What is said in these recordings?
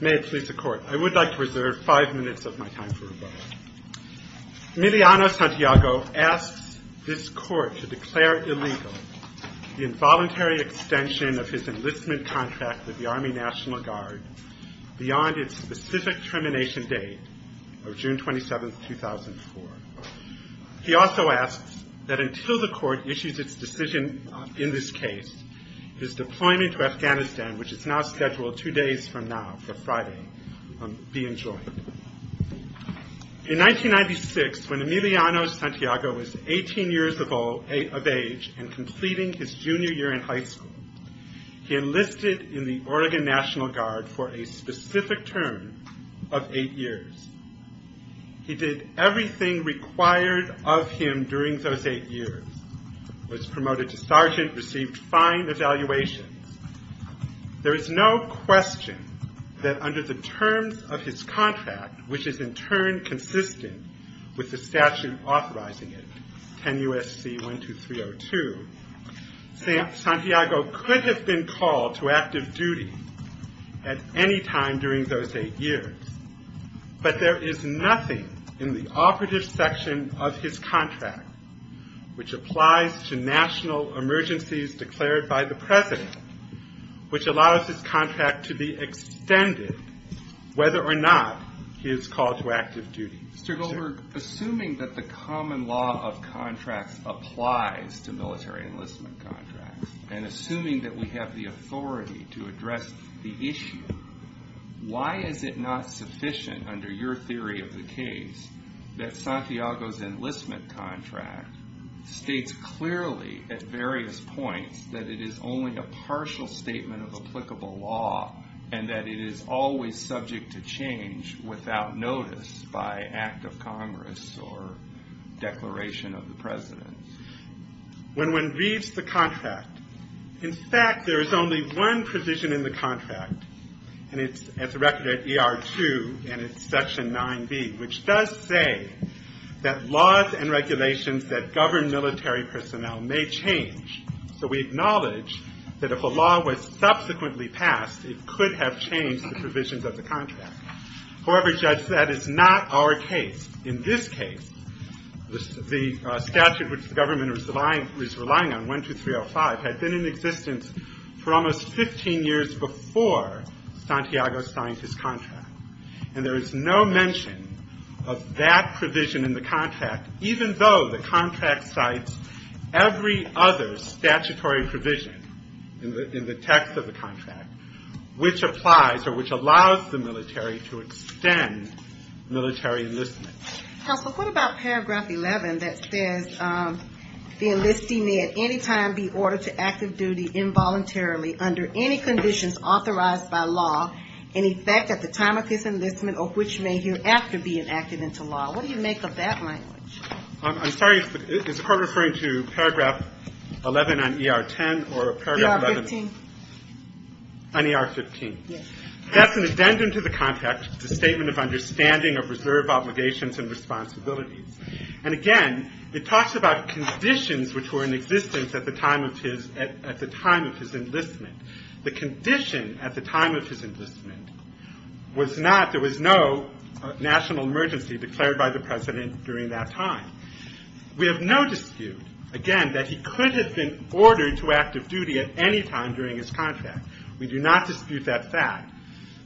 May it please the Court, I would like to reserve five minutes of my time for rebuttal. Miliano Santiago asks this Court to declare illegal the involuntary extension of his enlistment contract with the Army National Guard beyond its specific termination date of June 27, 2004. He also asks that until the Court issues its decision in this case, his deployment to Afghanistan, which is now scheduled two days from now for Friday, be enjoined. In 1996, when Miliano Santiago was 18 years of age and completing his junior year in high school, he enlisted in the Oregon National Guard for a specific term of eight years. He did everything required of him during those eight years, was promoted to sergeant, received fine evaluations. There is no question that under the terms of his contract, which is in turn consistent with the statute authorizing it, 10 U.S.C. 12302, Santiago could have been called to active duty at any time during those eight years. But there is nothing in the operative section of his contract which applies to national emergencies declared by the President, which allows his contract to be extended whether or not he is called to active duty. Mr. Goldberg, assuming that the common law of contracts applies to military enlistment contracts, and assuming that we have the authority to address the issue, why is it not sufficient under your theory of the case that Santiago's enlistment contract states clearly at various points that it is only a partial statement of applicable law and that it is always subject to change without notice by act of Congress or declaration of the President? When one reads the contract, in fact, there is only one provision in the contract, and it's directed at ER2 and it's section 9B, which does say that laws and regulations that govern military personnel may change. So we acknowledge that if a law was subsequently passed, it could have changed the provisions of the contract. However, Judge, that is not our case. In this case, the statute which the government is relying on, 12305, had been in existence for almost 15 years before Santiago signed his contract. And there is no mention of that provision in the contract, even though the contract cites every other statutory provision in the text of the contract, which applies or which allows the military to extend military enlistment. Counsel, what about paragraph 11 that says the enlistee may at any time be ordered to active duty involuntarily under any conditions authorized by law, and, in fact, at the time of his enlistment or which may hereafter be enacted into law? What do you make of that language? I'm sorry. Is the Court referring to paragraph 11 on ER10 or paragraph 11 on ER15? Yes. That's an addendum to the contract, the statement of understanding of reserve obligations and responsibilities. And, again, it talks about conditions which were in existence at the time of his enlistment. The condition at the time of his enlistment was not there was no national emergency declared by the President during that time. We have no dispute, again, that he could have been ordered to active duty at any time during his contract. We do not dispute that fact.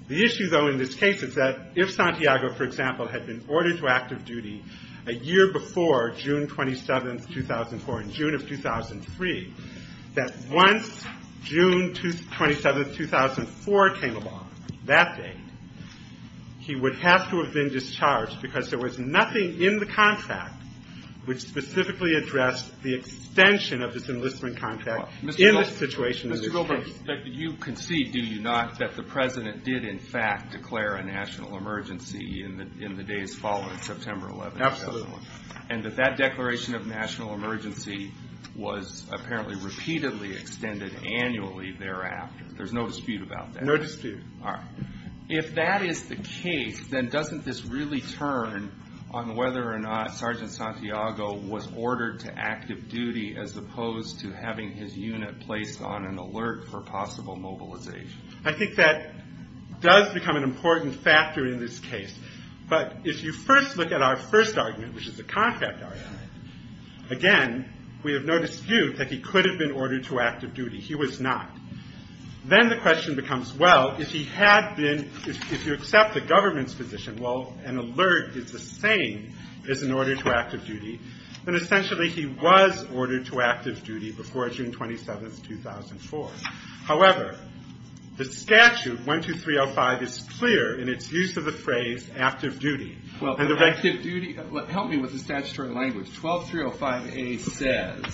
The issue, though, in this case is that if Santiago, for example, had been ordered to active duty a year before June 27, 2004, in June of 2003, that once June 27, 2004 came along, that date, he would have to have been discharged because there was nothing in the contract which specifically addressed the extension of this enlistment contract in this situation in this case. Mr. Goldberg, you concede, do you not, that the President did, in fact, declare a national emergency in the days following September 11, 2004? Absolutely. And that that declaration of national emergency was apparently repeatedly extended annually thereafter. There's no dispute about that. No dispute. All right. If that is the case, then doesn't this really turn on whether or not Sergeant Santiago was ordered to active duty as opposed to having his unit placed on an alert for possible mobilization? I think that does become an important factor in this case. But if you first look at our first argument, which is the contract argument, again, we have no dispute that he could have been ordered to active duty. He was not. Then the question becomes, well, if he had been, if you accept the government's position, well, an alert is the same as an order to active duty, then essentially he was ordered to active duty before June 27, 2004. However, the statute, 12305, is clear in its use of the phrase active duty. Active duty, help me with the statutory language. 12305A says,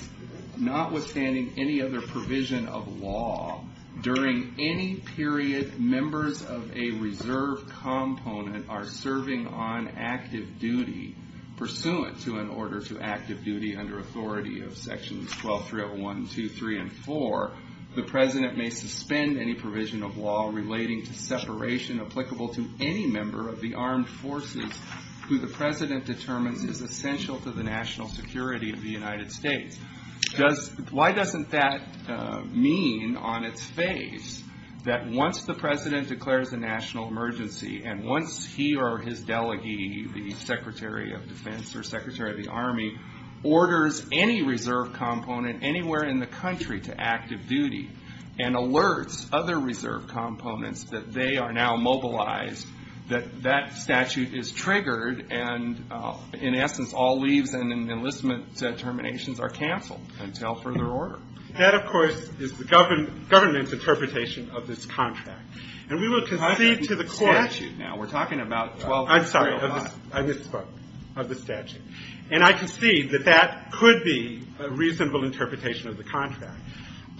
notwithstanding any other provision of law, during any period members of a reserve component are serving on active duty pursuant to an order to active duty under authority of Sections 12301, 2, 3, and 4, the President may suspend any provision of law relating to separation applicable to any member of the armed forces who the President determines is essential to the national security of the United States. Why doesn't that mean on its face that once the President declares a national emergency and once he or his delegee, the Secretary of Defense or Secretary of the Army, orders any reserve component anywhere in the country to active duty and alerts other reserve components that they are now mobilized, that that statute is triggered and, in essence, all leaves and enlistment terminations are canceled until further order? That, of course, is the government's interpretation of this contract. And we will concede to the court. I'm talking about the statute now. We're talking about 12305. I'm sorry. I misspoke. Of the statute. And I concede that that could be a reasonable interpretation of the contract.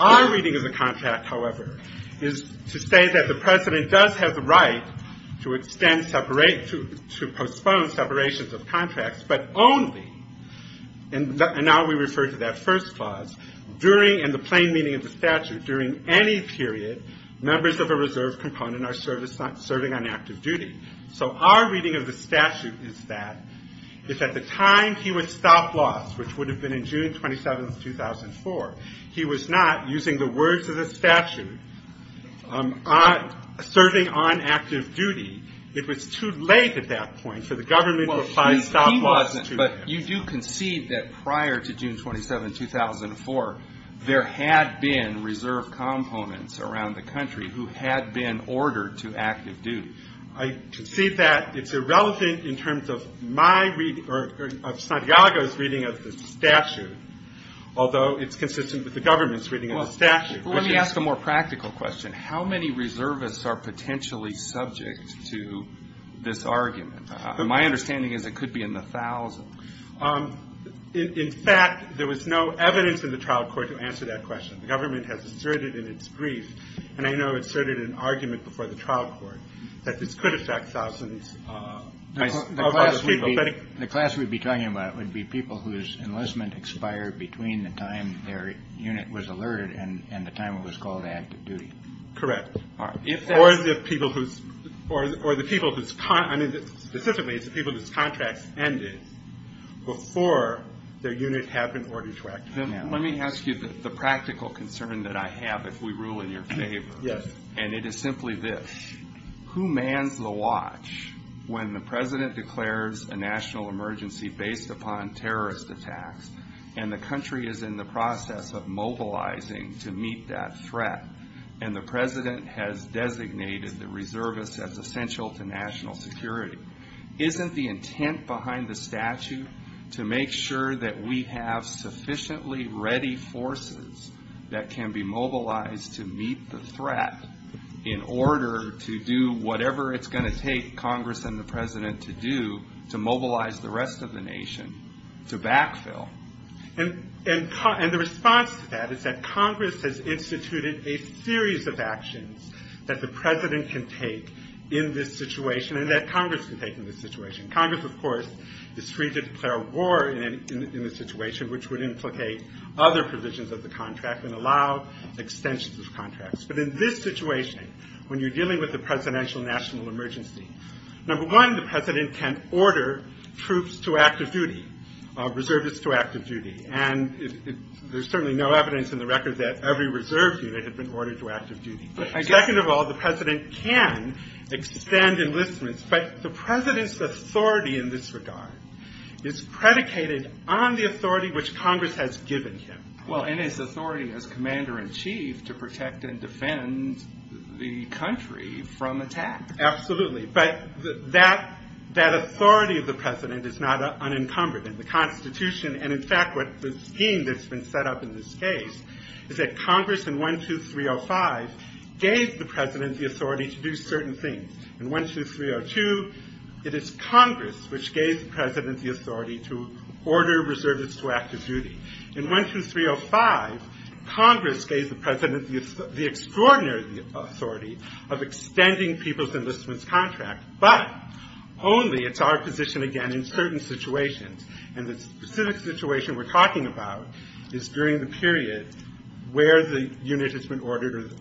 Our reading of the contract, however, is to say that the President does have the right to extend separate to postpone separations of contracts, but only, and now we refer to that first clause, during and the plain meaning of the statute, during any period members of a reserve component are serving on active duty. So our reading of the statute is that if at the time he would stop loss, which would have been in June 27, 2004, he was not, using the words of the statute, serving on active duty, it was too late at that point for the government to apply stop loss to him. Well, he wasn't, but you do concede that prior to June 27, 2004, there had been reserve components around the country who had been ordered to active duty. I concede that. It's irrelevant in terms of my reading or Santiago's reading of the statute, although it's consistent with the government's reading of the statute. Well, let me ask a more practical question. How many reservists are potentially subject to this argument? My understanding is it could be in the thousands. In fact, there was no evidence in the trial court to answer that question. The government has asserted in its brief, and I know it asserted in an argument before the trial court, that this could affect thousands of other people. The class we'd be talking about would be people whose enlistment expired between the time their unit was alerted and the time it was called active duty. Correct. Specifically, it's the people whose contracts ended before their unit had been ordered to act. Let me ask you the practical concern that I have if we rule in your favor. Yes. And it is simply this. Who mans the watch when the president declares a national emergency based upon terrorist attacks and the country is in the process of mobilizing to meet that threat and the president has designated the reservists as essential to national security? Isn't the intent behind the statute to make sure that we have sufficiently ready forces that can be mobilized to meet the threat in order to do whatever it's going to take Congress and the president to do to mobilize the rest of the nation to backfill? And the response to that is that Congress has instituted a series of actions that the president can take in this situation and that Congress can take in this situation. Congress, of course, is free to declare war in the situation which would implicate other provisions of the contract and allow extensions of contracts. But in this situation, when you're dealing with a presidential national emergency, number one, the president can order troops to active duty, reservists to active duty, and there's certainly no evidence in the record that every reserve unit had been ordered to active duty. Second of all, the president can extend enlistments, but the president's authority in this regard is predicated on the authority which Congress has given him. Well, and his authority as commander-in-chief to protect and defend the country from attack. Absolutely, but that authority of the president is not unencumbered in the Constitution. And in fact, the scheme that's been set up in this case is that Congress in 12305 gave the president the authority to do certain things. In 12302, it is Congress which gave the president the authority to order reservists to active duty. In 12305, Congress gave the president the extraordinary authority of extending people's enlistments contract, but only, it's our position again, in certain situations. And the specific situation we're talking about is during the period where the unit has been ordered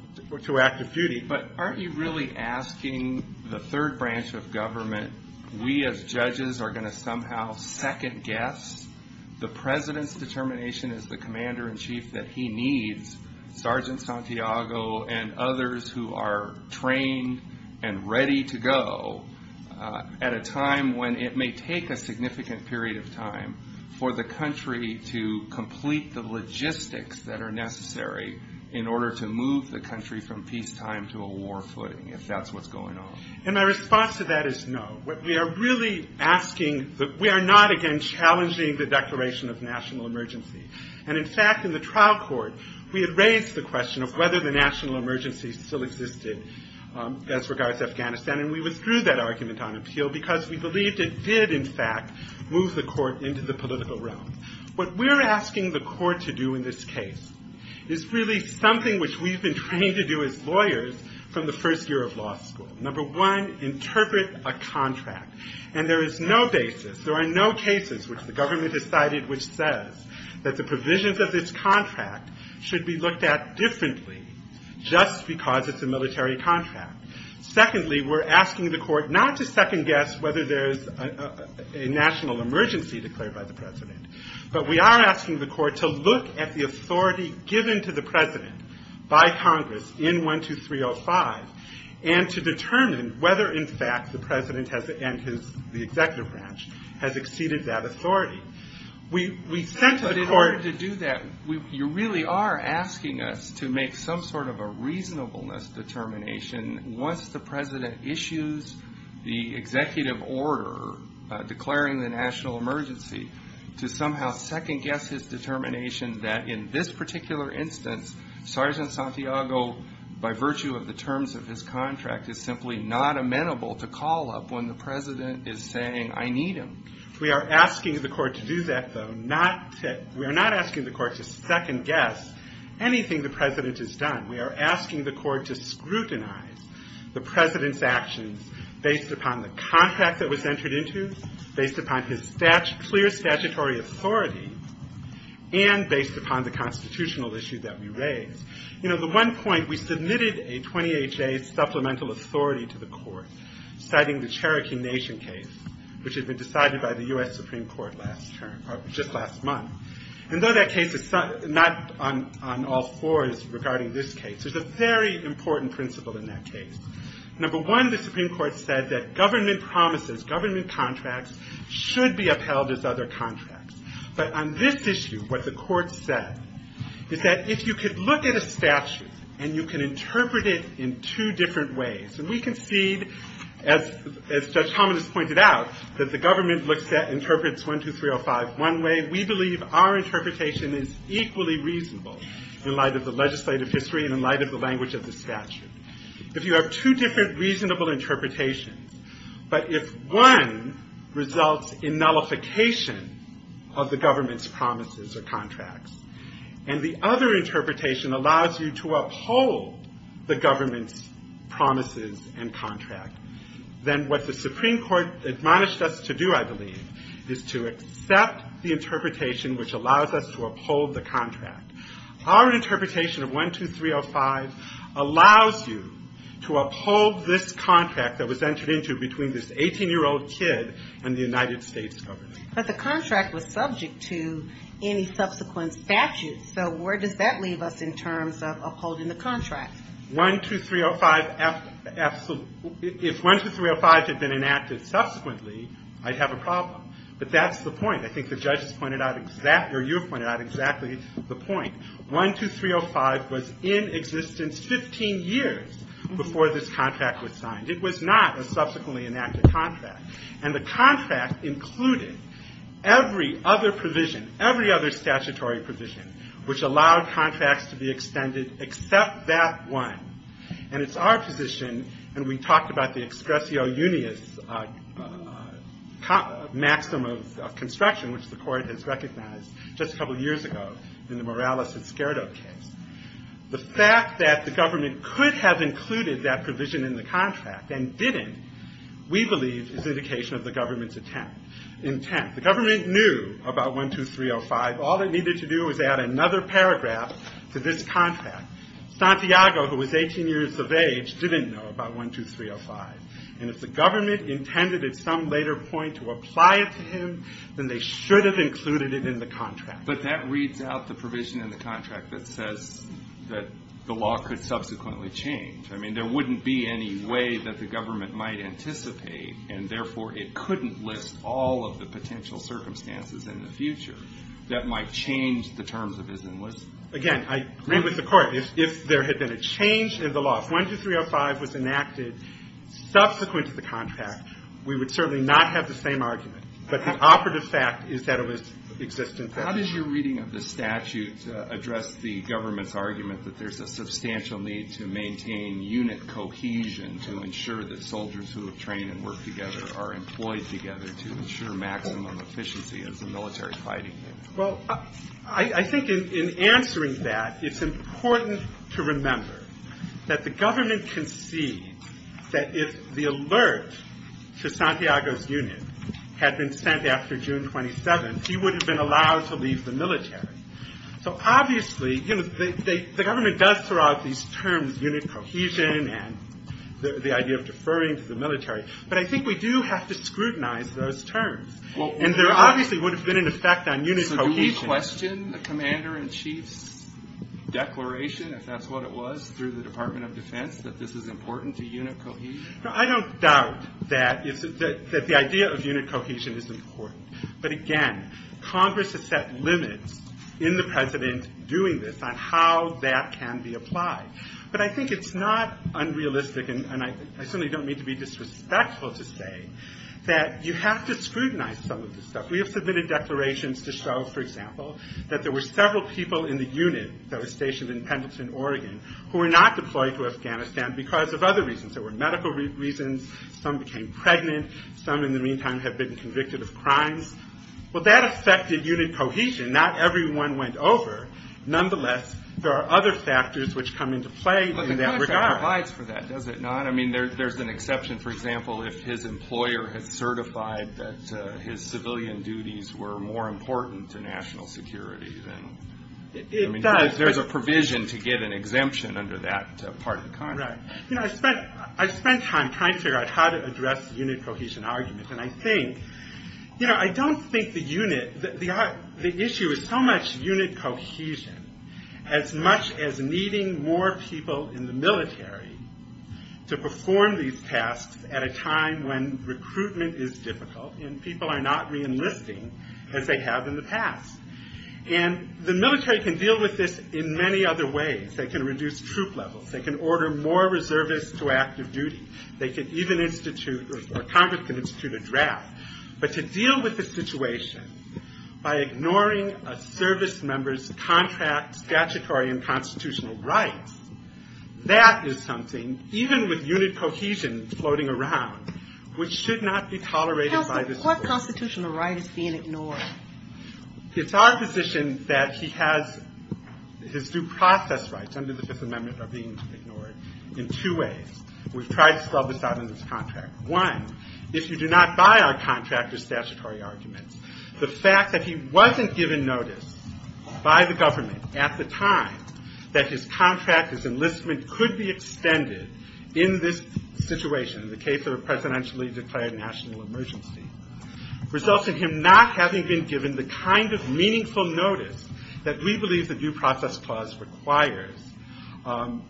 to active duty. But aren't you really asking the third branch of government, we as judges are going to somehow second guess the president's determination as the commander-in-chief that he needs Sergeant Santiago and others who are trained and ready to go at a time when it may take a significant period of time for the country to complete the logistics that are necessary in order to move the country from peacetime to a war footing, if that's what's going on. And my response to that is no. We are really asking, we are not again challenging the declaration of national emergency. And in fact, in the trial court, we had raised the question of whether the national emergency still existed as regards to Afghanistan, and we withdrew that argument on appeal because we believed it did in fact move the court into the political realm. What we're asking the court to do in this case is really something which we've been trained to do as lawyers from the first year of law school. Number one, interpret a contract. And there is no basis, there are no cases which the government has cited which says that the provisions of this contract should be looked at differently just because it's a military contract. Secondly, we're asking the court not to second guess whether there's a national emergency declared by the president, but we are asking the court to look at the authority given to the president by Congress in 12305 and to determine whether, in fact, the president and the executive branch has exceeded that authority. We sent the court- But in order to do that, you really are asking us to make some sort of a reasonableness determination once the president issues the executive order declaring the national emergency to somehow second guess his determination that in this particular instance, Sergeant Santiago, by virtue of the terms of his contract, is simply not amenable to call up when the president is saying, I need him. We are asking the court to do that, though. We are not asking the court to second guess anything the president has done. We are asking the court to scrutinize the president's actions based upon the contract that was entered into, based upon his clear statutory authority, and based upon the constitutional issue that we raised. You know, at one point, we submitted a 28-J supplemental authority to the court, citing the Cherokee Nation case, which had been decided by the U.S. Supreme Court just last month. And though that case is not on all fours regarding this case, there's a very important principle in that case. Number one, the Supreme Court said that government promises, government contracts, should be upheld as other contracts. But on this issue, what the court said is that if you could look at a statute and you can interpret it in two different ways, and we concede, as Judge Thomas pointed out, that the government interprets 12305 one way. We believe our interpretation is equally reasonable in light of the legislative history and in light of the language of the statute. If you have two different reasonable interpretations, but if one results in nullification of the government's promises or contracts, and the other interpretation allows you to uphold the government's promises and contract, then what the Supreme Court admonished us to do, I believe, is to accept the interpretation which allows us to uphold the contract. Our interpretation of 12305 allows you to uphold this contract that was entered into between this 18-year-old kid and the United States government. But the contract was subject to any subsequent statutes. So where does that leave us in terms of upholding the contract? 12305, if 12305 had been enacted subsequently, I'd have a problem. But that's the point. I think the judges pointed out exactly, or you pointed out exactly the point. 12305 was in existence 15 years before this contract was signed. It was not a subsequently enacted contract. And the contract included every other provision, every other statutory provision, which allowed contracts to be extended except that one. And it's our position, and we talked about the excrecio unius maxim of construction, which the court has recognized just a couple years ago in the Morales-Escuero case. The fact that the government could have included that provision in the contract and didn't, we believe, is indication of the government's intent. The government knew about 12305. All it needed to do was add another paragraph to this contract. Santiago, who was 18 years of age, didn't know about 12305. And if the government intended at some later point to apply it to him, then they should have included it in the contract. But that reads out the provision in the contract that says that the law could subsequently change. I mean, there wouldn't be any way that the government might anticipate, and therefore it couldn't list all of the potential circumstances in the future that might change the terms of his enlistment. Again, I agree with the Court. If there had been a change in the law, if 12305 was enacted subsequent to the contract, we would certainly not have the same argument. But the operative fact is that it was existent there. Alito How does your reading of the statute address the government's argument that there's a substantial need to maintain unit cohesion to ensure that soldiers who have trained and worked together are employed together to ensure maximum efficiency as a military fighting unit? Well, I think in answering that, it's important to remember that the government can see that if the alert to Santiago's unit had been sent after June 27th, he would have been allowed to leave the military. So obviously, you know, the government does throw out these terms, unit cohesion, and the idea of deferring to the military. But I think we do have to scrutinize those terms. And there obviously would have been an effect on unit cohesion. So do we question the Commander-in-Chief's declaration, if that's what it was, through the Department of Defense that this is important to unit cohesion? I don't doubt that the idea of unit cohesion is important. But again, Congress has set limits in the President doing this on how that can be applied. But I think it's not unrealistic, and I certainly don't mean to be disrespectful to say, that you have to scrutinize some of this stuff. We have submitted declarations to show, for example, that there were several people in the unit that were stationed in Pendleton, Oregon, who were not deployed to Afghanistan because of other reasons. There were medical reasons. Some became pregnant. Some, in the meantime, have been convicted of crimes. Well, that affected unit cohesion. Not everyone went over. Nonetheless, there are other factors which come into play in that regard. But the Congress provides for that, does it not? I mean, there's an exception, for example, if his employer has certified that his civilian duties were more important to national security. There's a provision to get an exemption under that part of the contract. I spent time trying to figure out how to address unit cohesion arguments, and I don't think the issue is so much unit cohesion as much as needing more people in the military to perform these tasks at a time when recruitment is difficult and people are not reenlisting as they have in the past. And the military can deal with this in many other ways. They can reduce troop levels. They can order more reservists to active duty. They can even institute, or Congress can institute, a draft. But to deal with the situation by ignoring a service member's contract statutory and constitutional rights, that is something, even with unit cohesion floating around, which should not be tolerated by this court. What constitutional right is being ignored? It's our position that he has his due process rights under the Fifth Amendment are being ignored in two ways. We've tried to spell this out in this contract. One, if you do not buy our contractor statutory arguments, the fact that he wasn't given notice by the government at the time that his contract as enlistment could be extended in this situation, in the case of a presidentially declared national emergency, results in him not having been given the kind of meaningful notice that we believe the Due Process Clause requires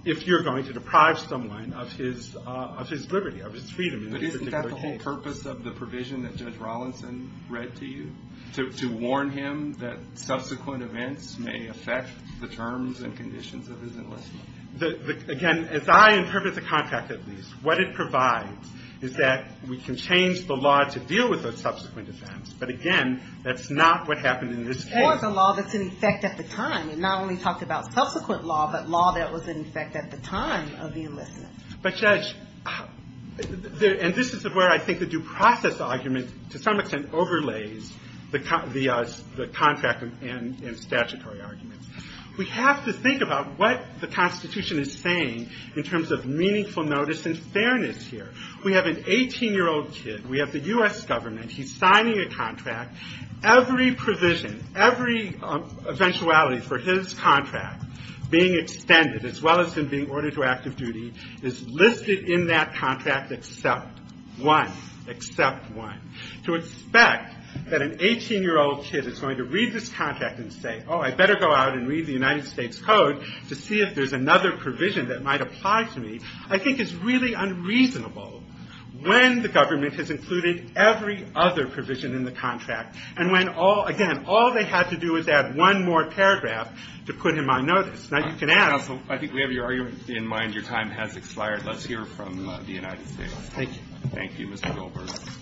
if you're going to deprive someone of his liberty, of his freedom. But isn't that the whole purpose of the provision that Judge Rawlinson read to you? To warn him that subsequent events may affect the terms and conditions of his enlistment. Again, as I interpret the contract at least, what it provides is that we can change the law to deal with those subsequent events. But again, that's not what happened in this case. Or the law that's in effect at the time. It not only talked about subsequent law, but law that was in effect at the time of the enlistment. But Judge, and this is where I think the due process argument, to some extent, overlays the contract and statutory arguments. We have to think about what the Constitution is saying in terms of meaningful notice and fairness here. We have an 18-year-old kid. We have the U.S. government. He's signing a contract. Every provision, every eventuality for his contract being extended, as well as him being ordered to active duty, is listed in that contract except one. Except one. To expect that an 18-year-old kid is going to read this contract and say, oh, I better go out and read the United States Code to see if there's another provision that might apply to me, I think is really unreasonable when the government has included every other provision in the contract. And when, again, all they had to do was add one more paragraph to put him on notice. Now, you can ask. I think we have your argument in mind. Your time has expired. Let's hear from the United States. Thank you. Thank you, Mr. Goldberg. Mr.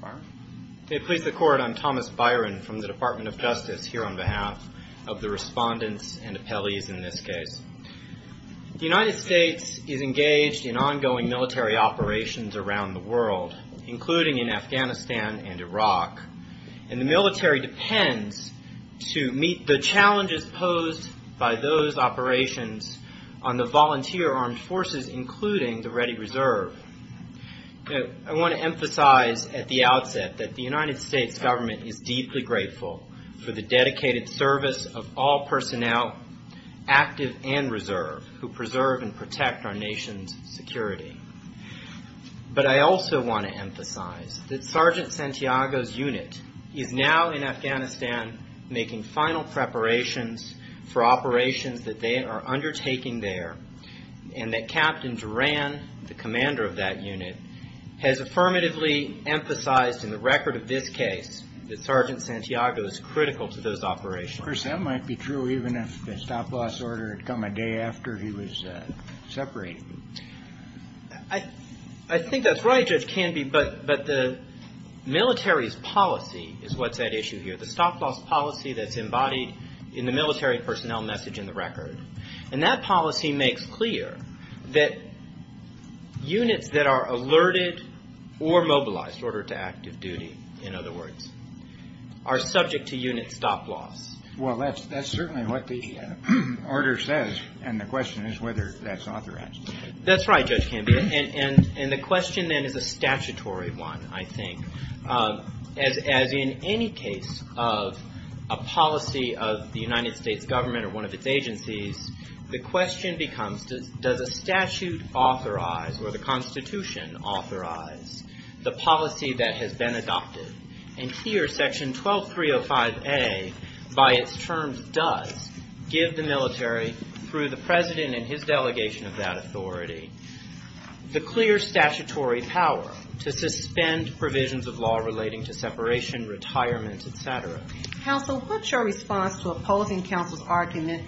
Byron. May it please the Court, I'm Thomas Byron from the Department of Justice here on behalf of the respondents and appellees in this case. The United States is engaged in ongoing military operations around the world, including in Afghanistan and Iraq. And the military depends to meet the challenges posed by those operations on the volunteer armed forces, including the Ready Reserve. I want to emphasize at the outset that the United States government is deeply grateful for the dedicated service of all personnel, active and reserve, who preserve and protect our nation's security. But I also want to emphasize that Sergeant Santiago's unit is now in Afghanistan making final preparations for operations that they are undertaking there and that Captain Duran, the commander of that unit, has affirmatively emphasized in the record of this case that Sergeant Santiago is critical to those operations. Of course, that might be true, even if the stop-loss order had come a day after he was separated. I think that's right, Judge Canby, but the military's policy is what's at issue here, the stop-loss policy that's embodied in the military personnel message in the record. And that policy makes clear that units that are alerted or mobilized, ordered to active duty, in other words, are subject to unit stop-loss. Well, that's certainly what the order says, and the question is whether that's authorized. That's right, Judge Canby, and the question, then, is a statutory one, I think. As in any case of a policy of the United States government or one of its agencies, the question becomes, does a statute authorize or the Constitution authorize the policy that has been adopted? And here, Section 12305A, by its terms, does give the military, the clear statutory power to suspend provisions of law relating to separation, retirement, et cetera. Counsel, what's your response to opposing counsel's argument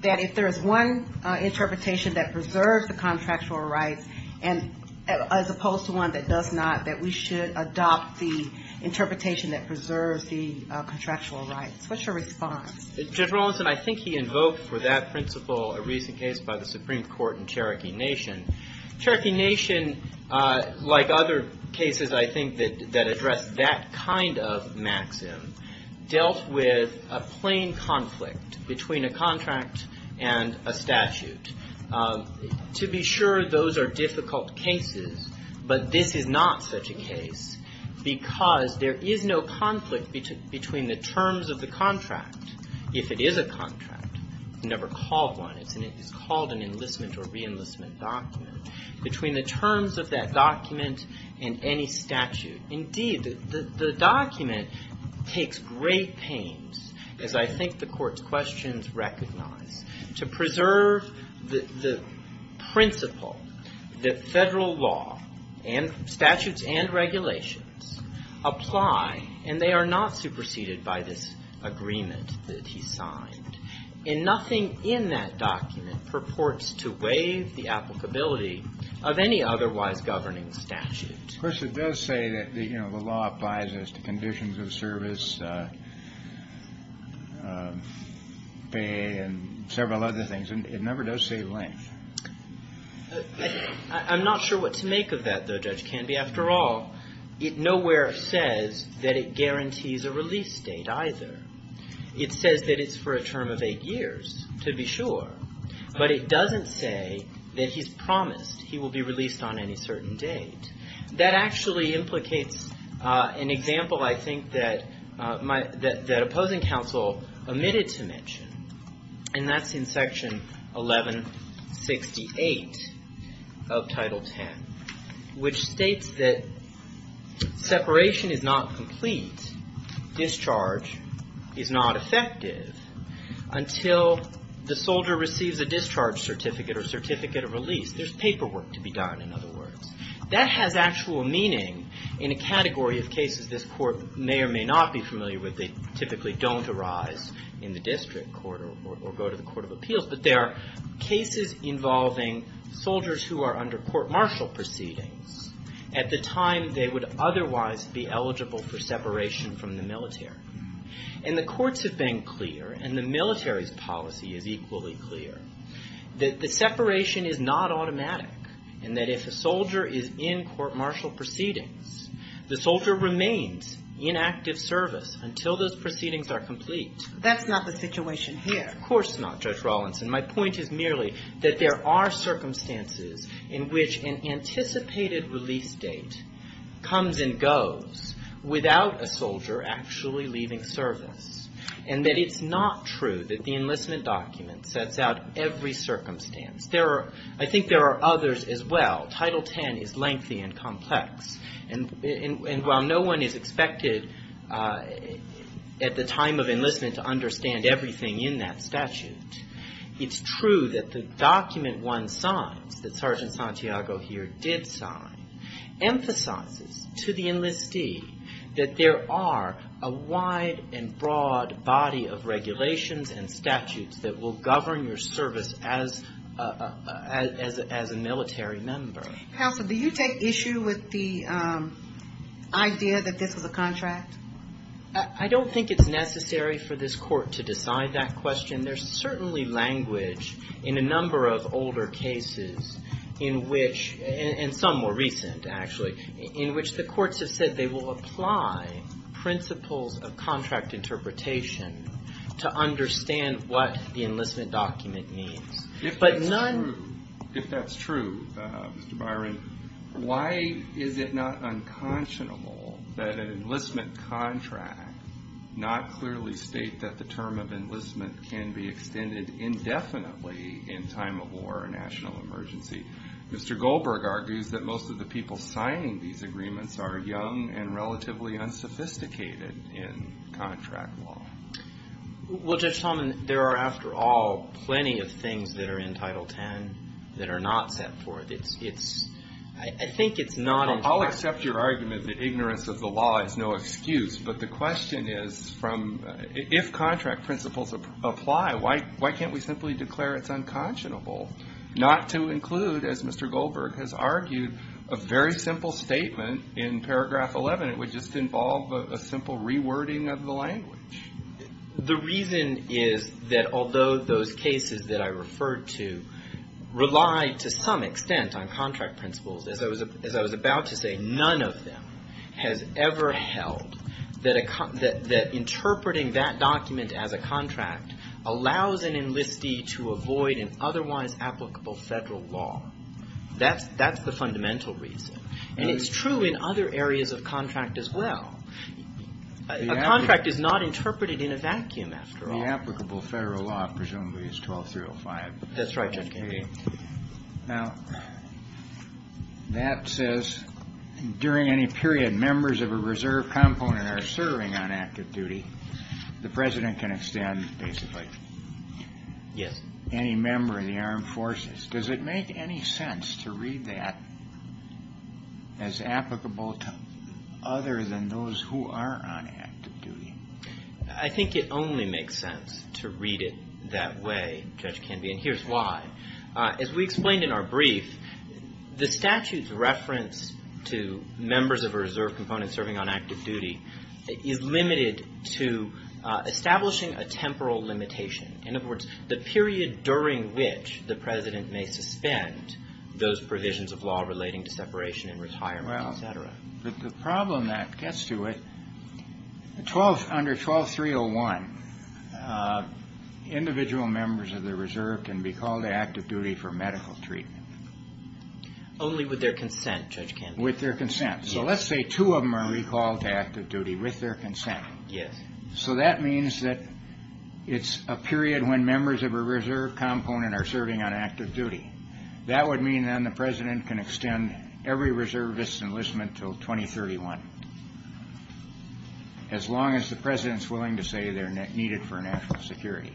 that if there is one interpretation that preserves the contractual rights as opposed to one that does not, that we should adopt the interpretation that preserves the contractual rights? What's your response? Judge Rawlinson, I think he invoked for that principle a recent case by the Supreme Court in Cherokee Nation. Cherokee Nation, like other cases, I think, that address that kind of maxim, dealt with a plain conflict between a contract and a statute. To be sure, those are difficult cases, but this is not such a case because there is no conflict between the terms of the contract, if it is a contract, it's never called one, it's called an enlistment or re-enlistment document, between the terms of that document and any statute. Indeed, the document takes great pains, as I think the Court's questions recognize, to preserve the principle that federal law and statutes and regulations apply, and they are not superseded by this agreement that he signed. And nothing in that document purports to waive the applicability of any otherwise governing statute. Of course, it does say that the law applies as to conditions of service, and several other things. It never does say length. I'm not sure what to make of that, though, Judge Canby. After all, it nowhere says that it guarantees a release date either. It says that it's for a term of eight years, to be sure, but it doesn't say that he's promised he will be released on any certain date. That actually implicates an example, I think, that opposing counsel omitted to mention, and that's in Section 1168 of Title X, which states that separation is not complete, discharge is not effective until the soldier receives a discharge certificate or certificate of release. There's paperwork to be done, in other words. That has actual meaning in a category of cases this Court may or may not be familiar with. They typically don't arise in the district court or go to the Court of Appeals, but there are cases involving soldiers who are under court-martial proceedings at the time they would otherwise be eligible for separation from the military. And the courts have been clear, and the military's policy is equally clear, that the separation is not automatic, and that if a soldier is in court-martial proceedings, the soldier remains in active service until those proceedings are complete. That's not the situation here. Of course not, Judge Rawlinson. My point is merely that there are circumstances in which an anticipated release date comes and goes without a soldier actually leaving service, and that it's not true that the enlistment document sets out every circumstance. I think there are others as well. Title X is lengthy and complex, and while no one is expected at the time of enlistment to understand everything in that statute, it's true that the document one signs, that Sergeant Santiago here did sign, emphasizes to the enlistee that there are a wide and broad body of regulations and statutes that will govern your service as a military member. Counsel, do you take issue with the idea that this was a contract? I don't think it's necessary for this court to decide that question. There's certainly language in a number of older cases in which, and some more recent, actually, in which the courts have said they will apply principles of contract interpretation to understand what the enlistment document means. If that's true, Mr. Byron, why is it not unconscionable that an enlistment contract not clearly state that the term of enlistment can be extended indefinitely in time of war or national emergency? Mr. Goldberg argues that most of the people signing these agreements are young and relatively unsophisticated in contract law. Well, Judge Talman, there are, after all, plenty of things that are in Title X that are not set forth. I think it's not a choice. I'll accept your argument that ignorance of the law is no excuse, but the question is if contract principles apply, why can't we simply declare it's unconscionable not to include, as Mr. Goldberg has argued, a very simple statement in paragraph 11? It would just involve a simple rewording of the language. The reason is that although those cases that I referred to rely to some extent on contract principles, as I was about to say, none of them has ever held that interpreting that document as a contract allows an enlistee to avoid an otherwise applicable federal law. That's the fundamental reason. And it's true in other areas of contract as well. A contract is not interpreted in a vacuum, after all. The applicable federal law presumably is 1205. That's right, Judge Kennedy. Now, that says during any period members of a reserve component are serving on active duty, the President can extend basically any member of the armed forces. Does it make any sense to read that as applicable to other than those who are on active duty? I think it only makes sense to read it that way, Judge Kennedy, and here's why. As we explained in our brief, the statute's reference to members of a reserve component serving on active duty is limited to establishing a temporal limitation. In other words, the period during which the President may suspend those provisions of law relating to separation and retirement, etc. Well, the problem that gets to it, under 12301, individual members of the reserve can be called to active duty for medical treatment. Only with their consent, Judge Kennedy. With their consent. So let's say two of them are recalled to active duty with their consent. Yes. So that means that it's a period when members of a reserve component are serving on active duty. That would mean then the President can extend every reservist's enlistment until 2031, as long as the President's willing to say they're needed for national security.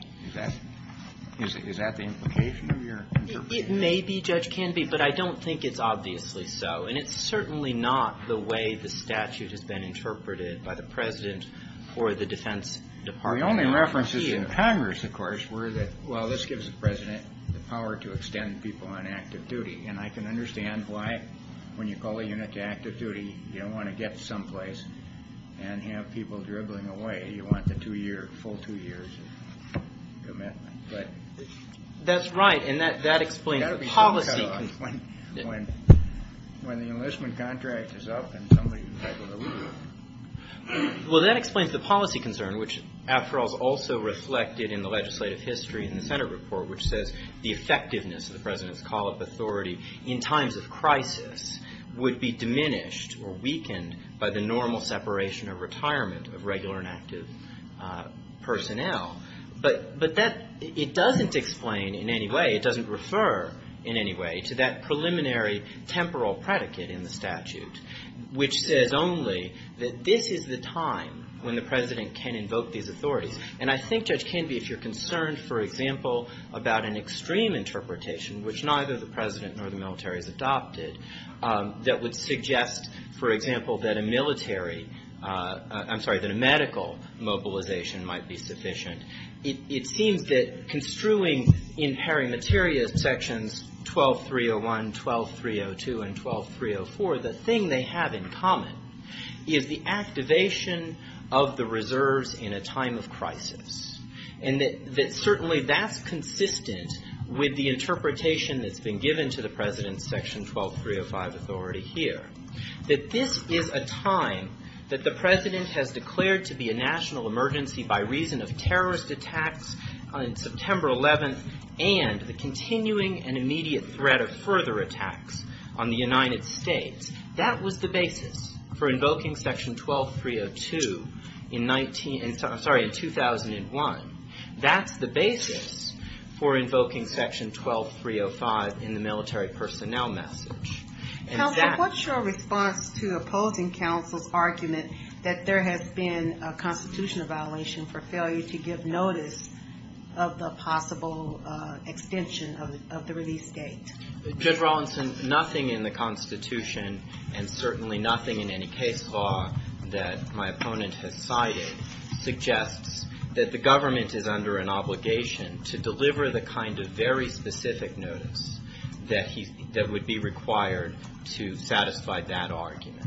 Is that the implication of your interpretation? It may be, Judge Kennedy, but I don't think it's obviously so. And it's certainly not the way the statute has been interpreted by the President or the Defense Department. The only references in Congress, of course, were that, well, this gives the President the power to extend people on active duty. And I can understand why, when you call a unit to active duty, you don't want to get someplace and have people dribbling away. You want the full two years of commitment. That's right, and that explains the policy. When the enlistment contract is up and somebody is able to leave. Well, that explains the policy concern, which after all is also reflected in the legislative history in the Senate report, which says the effectiveness of the President's call of authority in times of crisis would be diminished or weakened by the normal separation of retirement of regular and active personnel. But that doesn't explain in any way, it doesn't refer in any way to that preliminary temporal predicate in the statute, which says only that this is the time when the President can invoke these authorities. And I think, Judge Kennedy, if you're concerned, for example, about an extreme interpretation, which neither the President nor the military has adopted, that would suggest, for example, that a military, I'm sorry, that a medical mobilization might be sufficient. It seems that construing in perimeteria sections 12301, 12302, and 12304, the thing they have in common is the activation of the reserves in a time of crisis. And that certainly that's consistent with the interpretation that's been given to the President's section 12305 authority here. That this is a time that the President has declared to be a national emergency by reason of terrorist attacks on September 11th and the continuing and immediate threat of further attacks on the United States. That was the basis for invoking section 12302 in 19, I'm sorry, in 2001. That's the basis for invoking section 12305 in the military personnel message. Counsel, what's your response to opposing counsel's argument that there has been a constitutional violation for failure to give notice of the possible extension of the release date? Judge Rawlinson, nothing in the Constitution and certainly nothing in any case law that my opponent has cited suggests that the government is under an obligation to deliver the kind of very specific notice that would be required to satisfy that argument.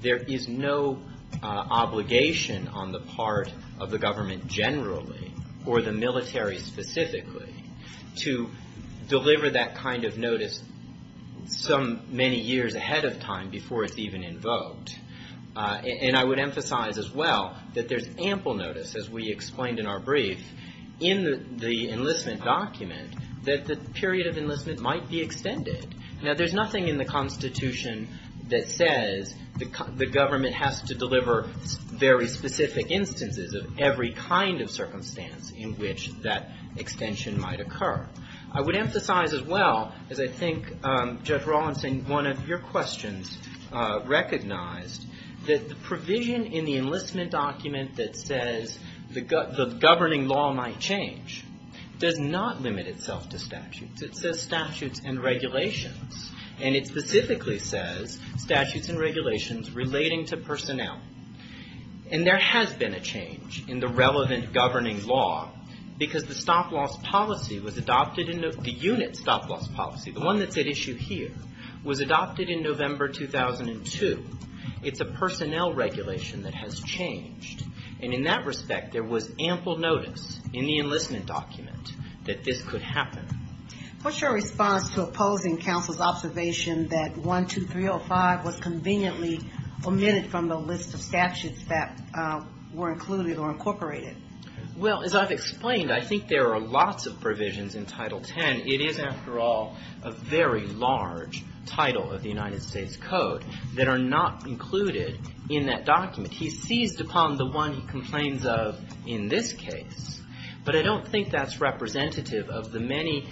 There is no obligation on the part of the government generally or the military specifically to deliver that kind of notice some many years ahead of time before it's even invoked. And I would emphasize as well that there's ample notice, as we explained in our brief, in the enlistment document that the period of enlistment might be extended. Now, there's nothing in the Constitution that says the government has to deliver very specific instances of every kind of circumstance in which that extension might occur. I would emphasize as well, as I think Judge Rawlinson, one of your questions recognized, that the provision in the enlistment document that says the governing law might change does not limit itself to statutes. It says statutes and regulations. And it specifically says statutes and regulations relating to personnel. And there has been a change in the relevant governing law because the stop loss policy was adopted in the unit stop loss policy, the one that's at issue here, was adopted in November 2002. It's a personnel regulation that has changed. And in that respect, there was ample notice in the enlistment document that this could happen. What's your response to opposing counsel's observation that 12305 was conveniently omitted from the list of statutes that were included or incorporated? Well, as I've explained, I think there are lots of provisions in Title X. It is, after all, a very large title of the United States Code that are not included in that document. He seized upon the one he complains of in this case. But I don't think that's representative of the many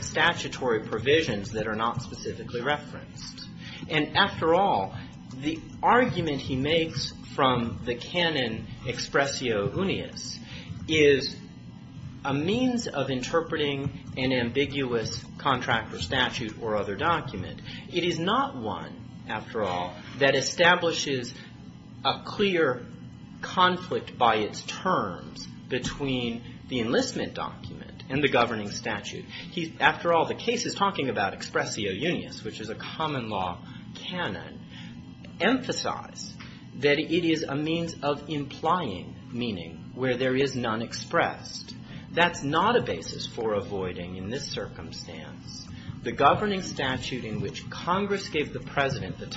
statutory provisions that are not specifically referenced. And after all, the argument he makes from the canon expressio unius is a means of interpreting an ambiguous contractor statute or other document. It is not one, after all, that establishes a clear conflict by its terms between the enlistment document and the governing statute. After all, the case is talking about expressio unius, which is a common law canon. Emphasize that it is a means of implying meaning where there is none expressed. That's not a basis for avoiding in this circumstance the governing statute in which Congress gave the president the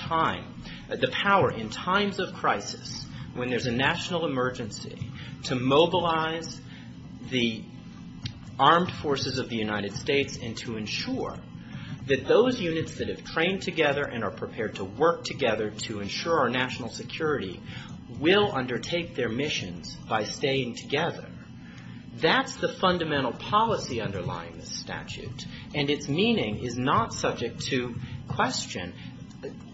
power in times of crisis, when there's a national emergency, to mobilize the armed forces of the United States and to ensure that those units that have trained together and are prepared to work together to ensure our national security will undertake their missions by staying together. That's the fundamental policy underlying this statute, and its meaning is not subject to question.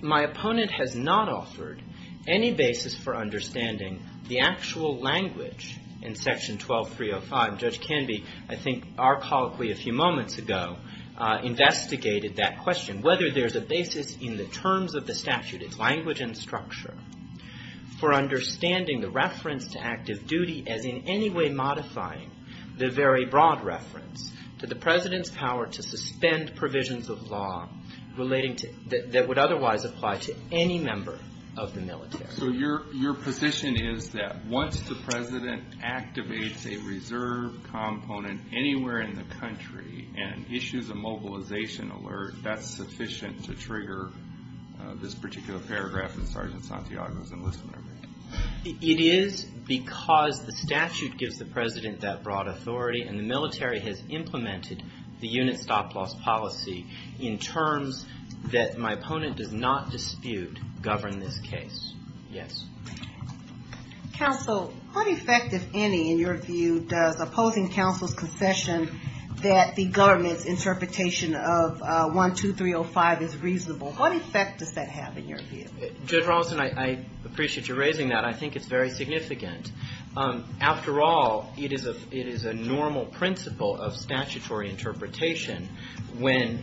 My opponent has not offered any basis for understanding the actual language in Section 12305. Judge Canby, I think, archaically a few moments ago, investigated that question, whether there's a basis in the terms of the statute, its language and structure, for understanding the reference to active duty as in any way modifying the very broad reference to the president's power to suspend provisions of law that would otherwise apply to any member of the military. So your position is that once the president activates a reserve component anywhere in the country and issues a mobilization alert, that's sufficient to trigger this particular paragraph in Sergeant Santiago's enlistment agreement? It is because the statute gives the president that broad authority, and the military has implemented the unit stop-loss policy in terms that my opponent does not dispute govern this case. Yes. Counsel, what effect, if any, in your view, does opposing counsel's concession that the government's interpretation of 12305 is reasonable? What effect does that have in your view? Judge Rawson, I appreciate your raising that. I think it's very significant. After all, it is a normal principle of statutory interpretation when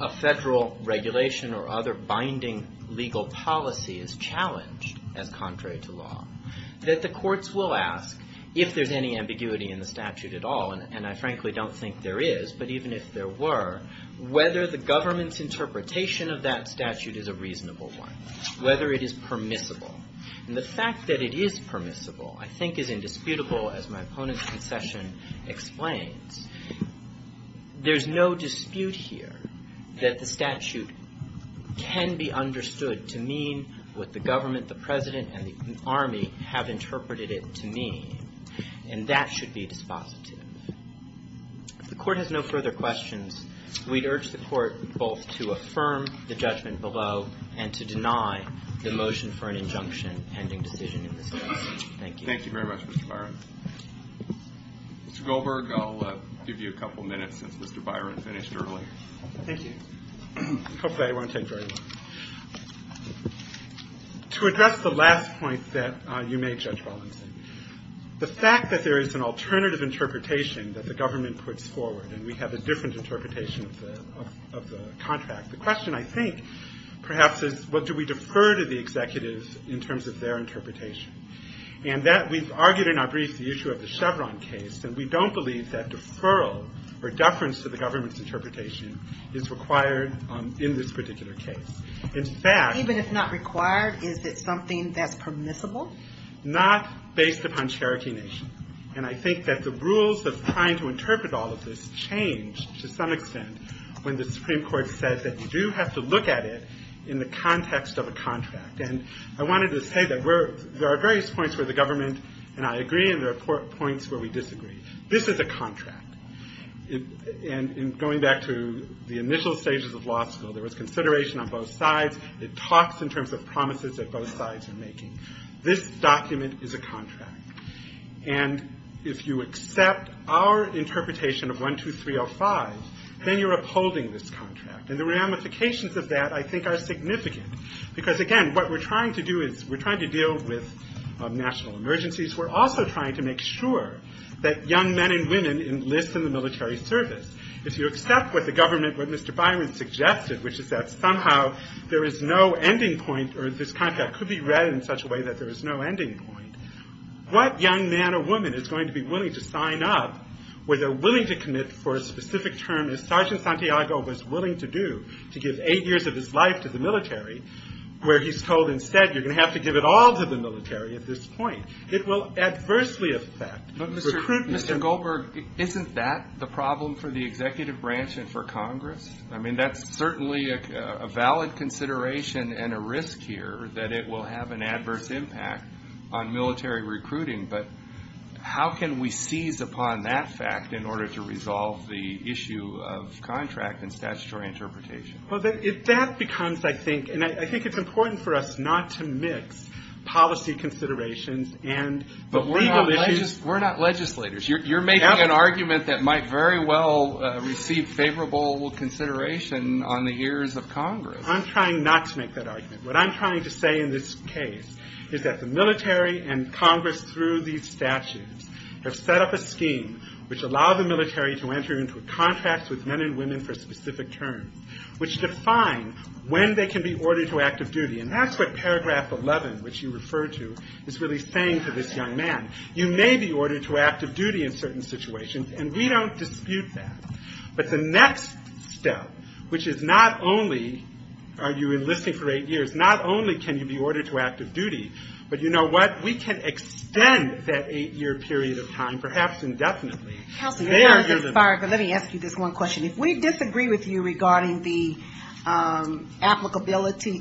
a federal regulation or other binding legal policy is challenged as contrary to law, that the courts will ask, if there's any ambiguity in the statute at all, and I frankly don't think there is, but even if there were, whether the government's interpretation of that statute is a reasonable one, whether it is permissible. And the fact that it is permissible, I think, is indisputable, as my opponent's concession explains. There's no dispute here that the statute can be understood to mean what the government, the president, and the army have interpreted it to mean, and that should be dispositive. If the court has no further questions, we'd urge the court both to affirm the judgment below and to deny the motion for an injunction pending decision in this case. Thank you. Thank you very much, Mr. Byron. Mr. Goldberg, I'll give you a couple minutes since Mr. Byron finished early. Thank you. Hopefully I won't take very long. To address the last point that you made, Judge Rawson, the fact that there is an alternative interpretation that the government puts forward, and we have a different interpretation of the contract, the question, I think, perhaps, is what do we do? We've argued in our brief the issue of the Chevron case, and we don't believe that deferral or deference to the government's interpretation is required in this particular case. In fact... Even if not required, is it something that's permissible? Not based upon Cherokee Nation. And I think that the rules of trying to interpret all of this change to some extent when the Supreme Court says that you do have to look at it in the context of a contract. And I wanted to say that there are various points where the government and I agree, and there are points where we disagree. This is a contract. And going back to the initial stages of law school, there was consideration on both sides. It talks in terms of promises that both sides are making. This document is a contract. And if you accept our interpretation of 12305, then you're upholding this contract. And the ramifications of that, I think, are significant. Because, again, what we're trying to do is we're trying to deal with national emergencies. We're also trying to make sure that young men and women enlist in the military service. If you accept what the government, what Mr. Byron suggested, which is that somehow there is no ending point, or this contract could be read in such a way that there is no ending point, what young man or woman is going to be willing to sign up, whether willing to commit for a specific term, as Sergeant Santiago was willing to do, to give aid to the military, where he's told instead, you're going to have to give it all to the military at this point. It will adversely affect recruitment. Mr. Goldberg, isn't that the problem for the executive branch and for Congress? I mean, that's certainly a valid consideration and a risk here that it will have an adverse impact on military recruiting. But how can we seize upon that fact in order to resolve the issue of military recruitment? We're not legislators. You're making an argument that might very well receive favorable consideration on the ears of Congress. I'm trying not to make that argument. What I'm trying to say in this case is that the military and Congress, through these statutes, have set up a scheme which allowed the military to enter into a contract with men and women for specific terms, which defines the period of time when they can be ordered to active duty. And that's what paragraph 11, which you referred to, is really saying to this young man. You may be ordered to active duty in certain situations, and we don't dispute that. But the next step, which is not only are you enlisting for eight years, not only can you be ordered to active duty, but you know what? We can extend that eight-year period of time, perhaps indefinitely. Do you lose applicability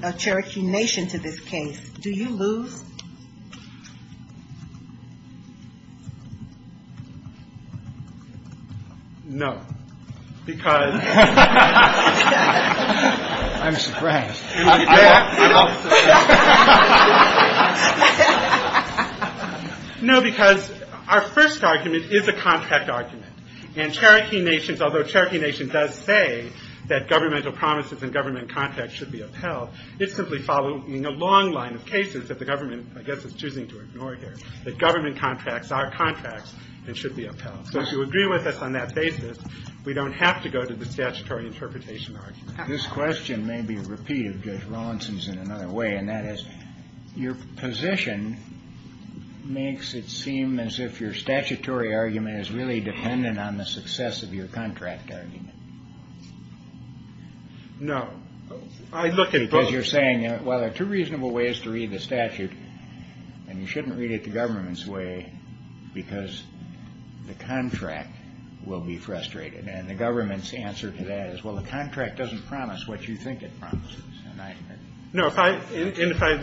of Cherokee Nation to this case? No, because... No, because our first argument is a contract argument. And Cherokee Nation, although Cherokee Nation does say that governmental promises and government contracts should be upheld, it's simply following a long line of cases that the government, I guess, is choosing to ignore here, that government contracts are contracts and should be upheld. So to agree with us on that basis, we don't have to go to the statutory interpretation argument. Your position makes it seem as if your statutory argument is really dependent on the success of your contract argument. No. I look at both... Because you're saying, well, there are two reasonable ways to read the statute, and you shouldn't read it the government's way, because the contract will be frustrated. And the government's answer to that is, well, the contract doesn't promise what you think it promises. No. And if I...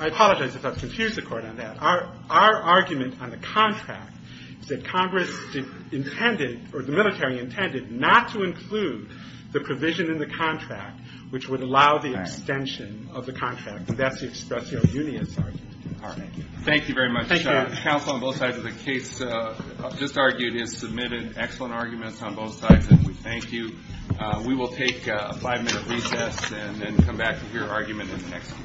I apologize if I've confused the Court on that. Our argument on the contract is that Congress intended, or the military intended, not to include the provision in the contract which would allow the extension of the contract. And that's the expressio unius argument. Thank you very much. Counsel on both sides of the case just argued has submitted excellent arguments on both sides, and we thank you. We will take a five-minute recess and then come back to hear argument in the next one.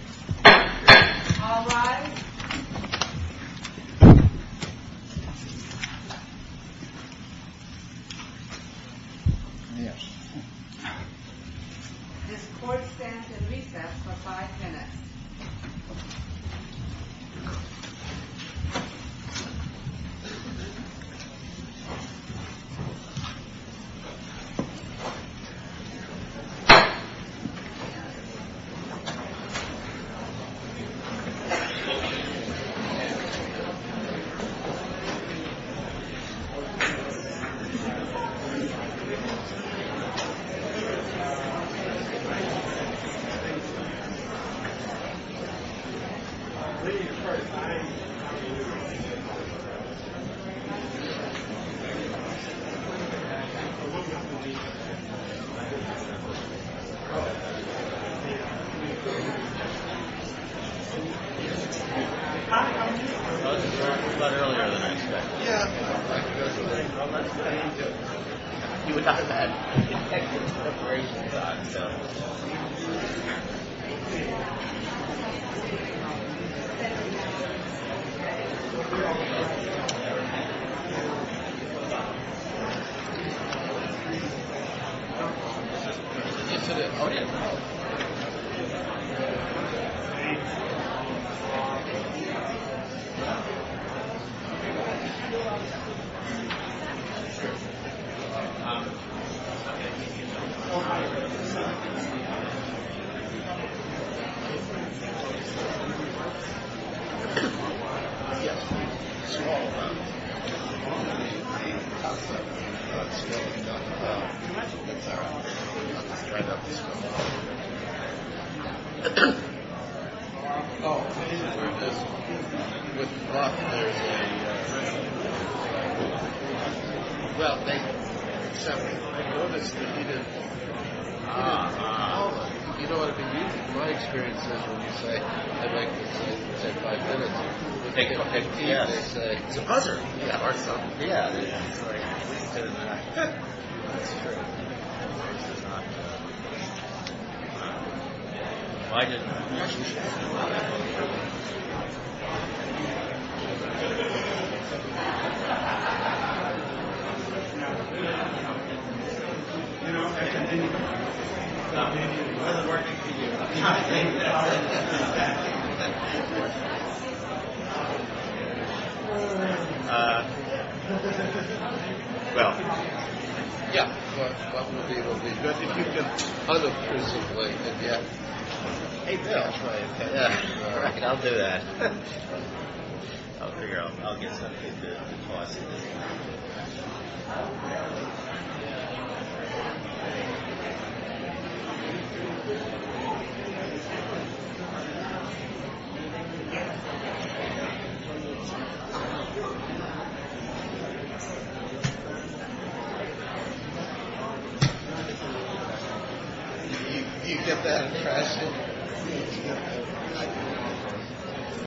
Yes. Thank you. Thank you. Thank you. Thank you.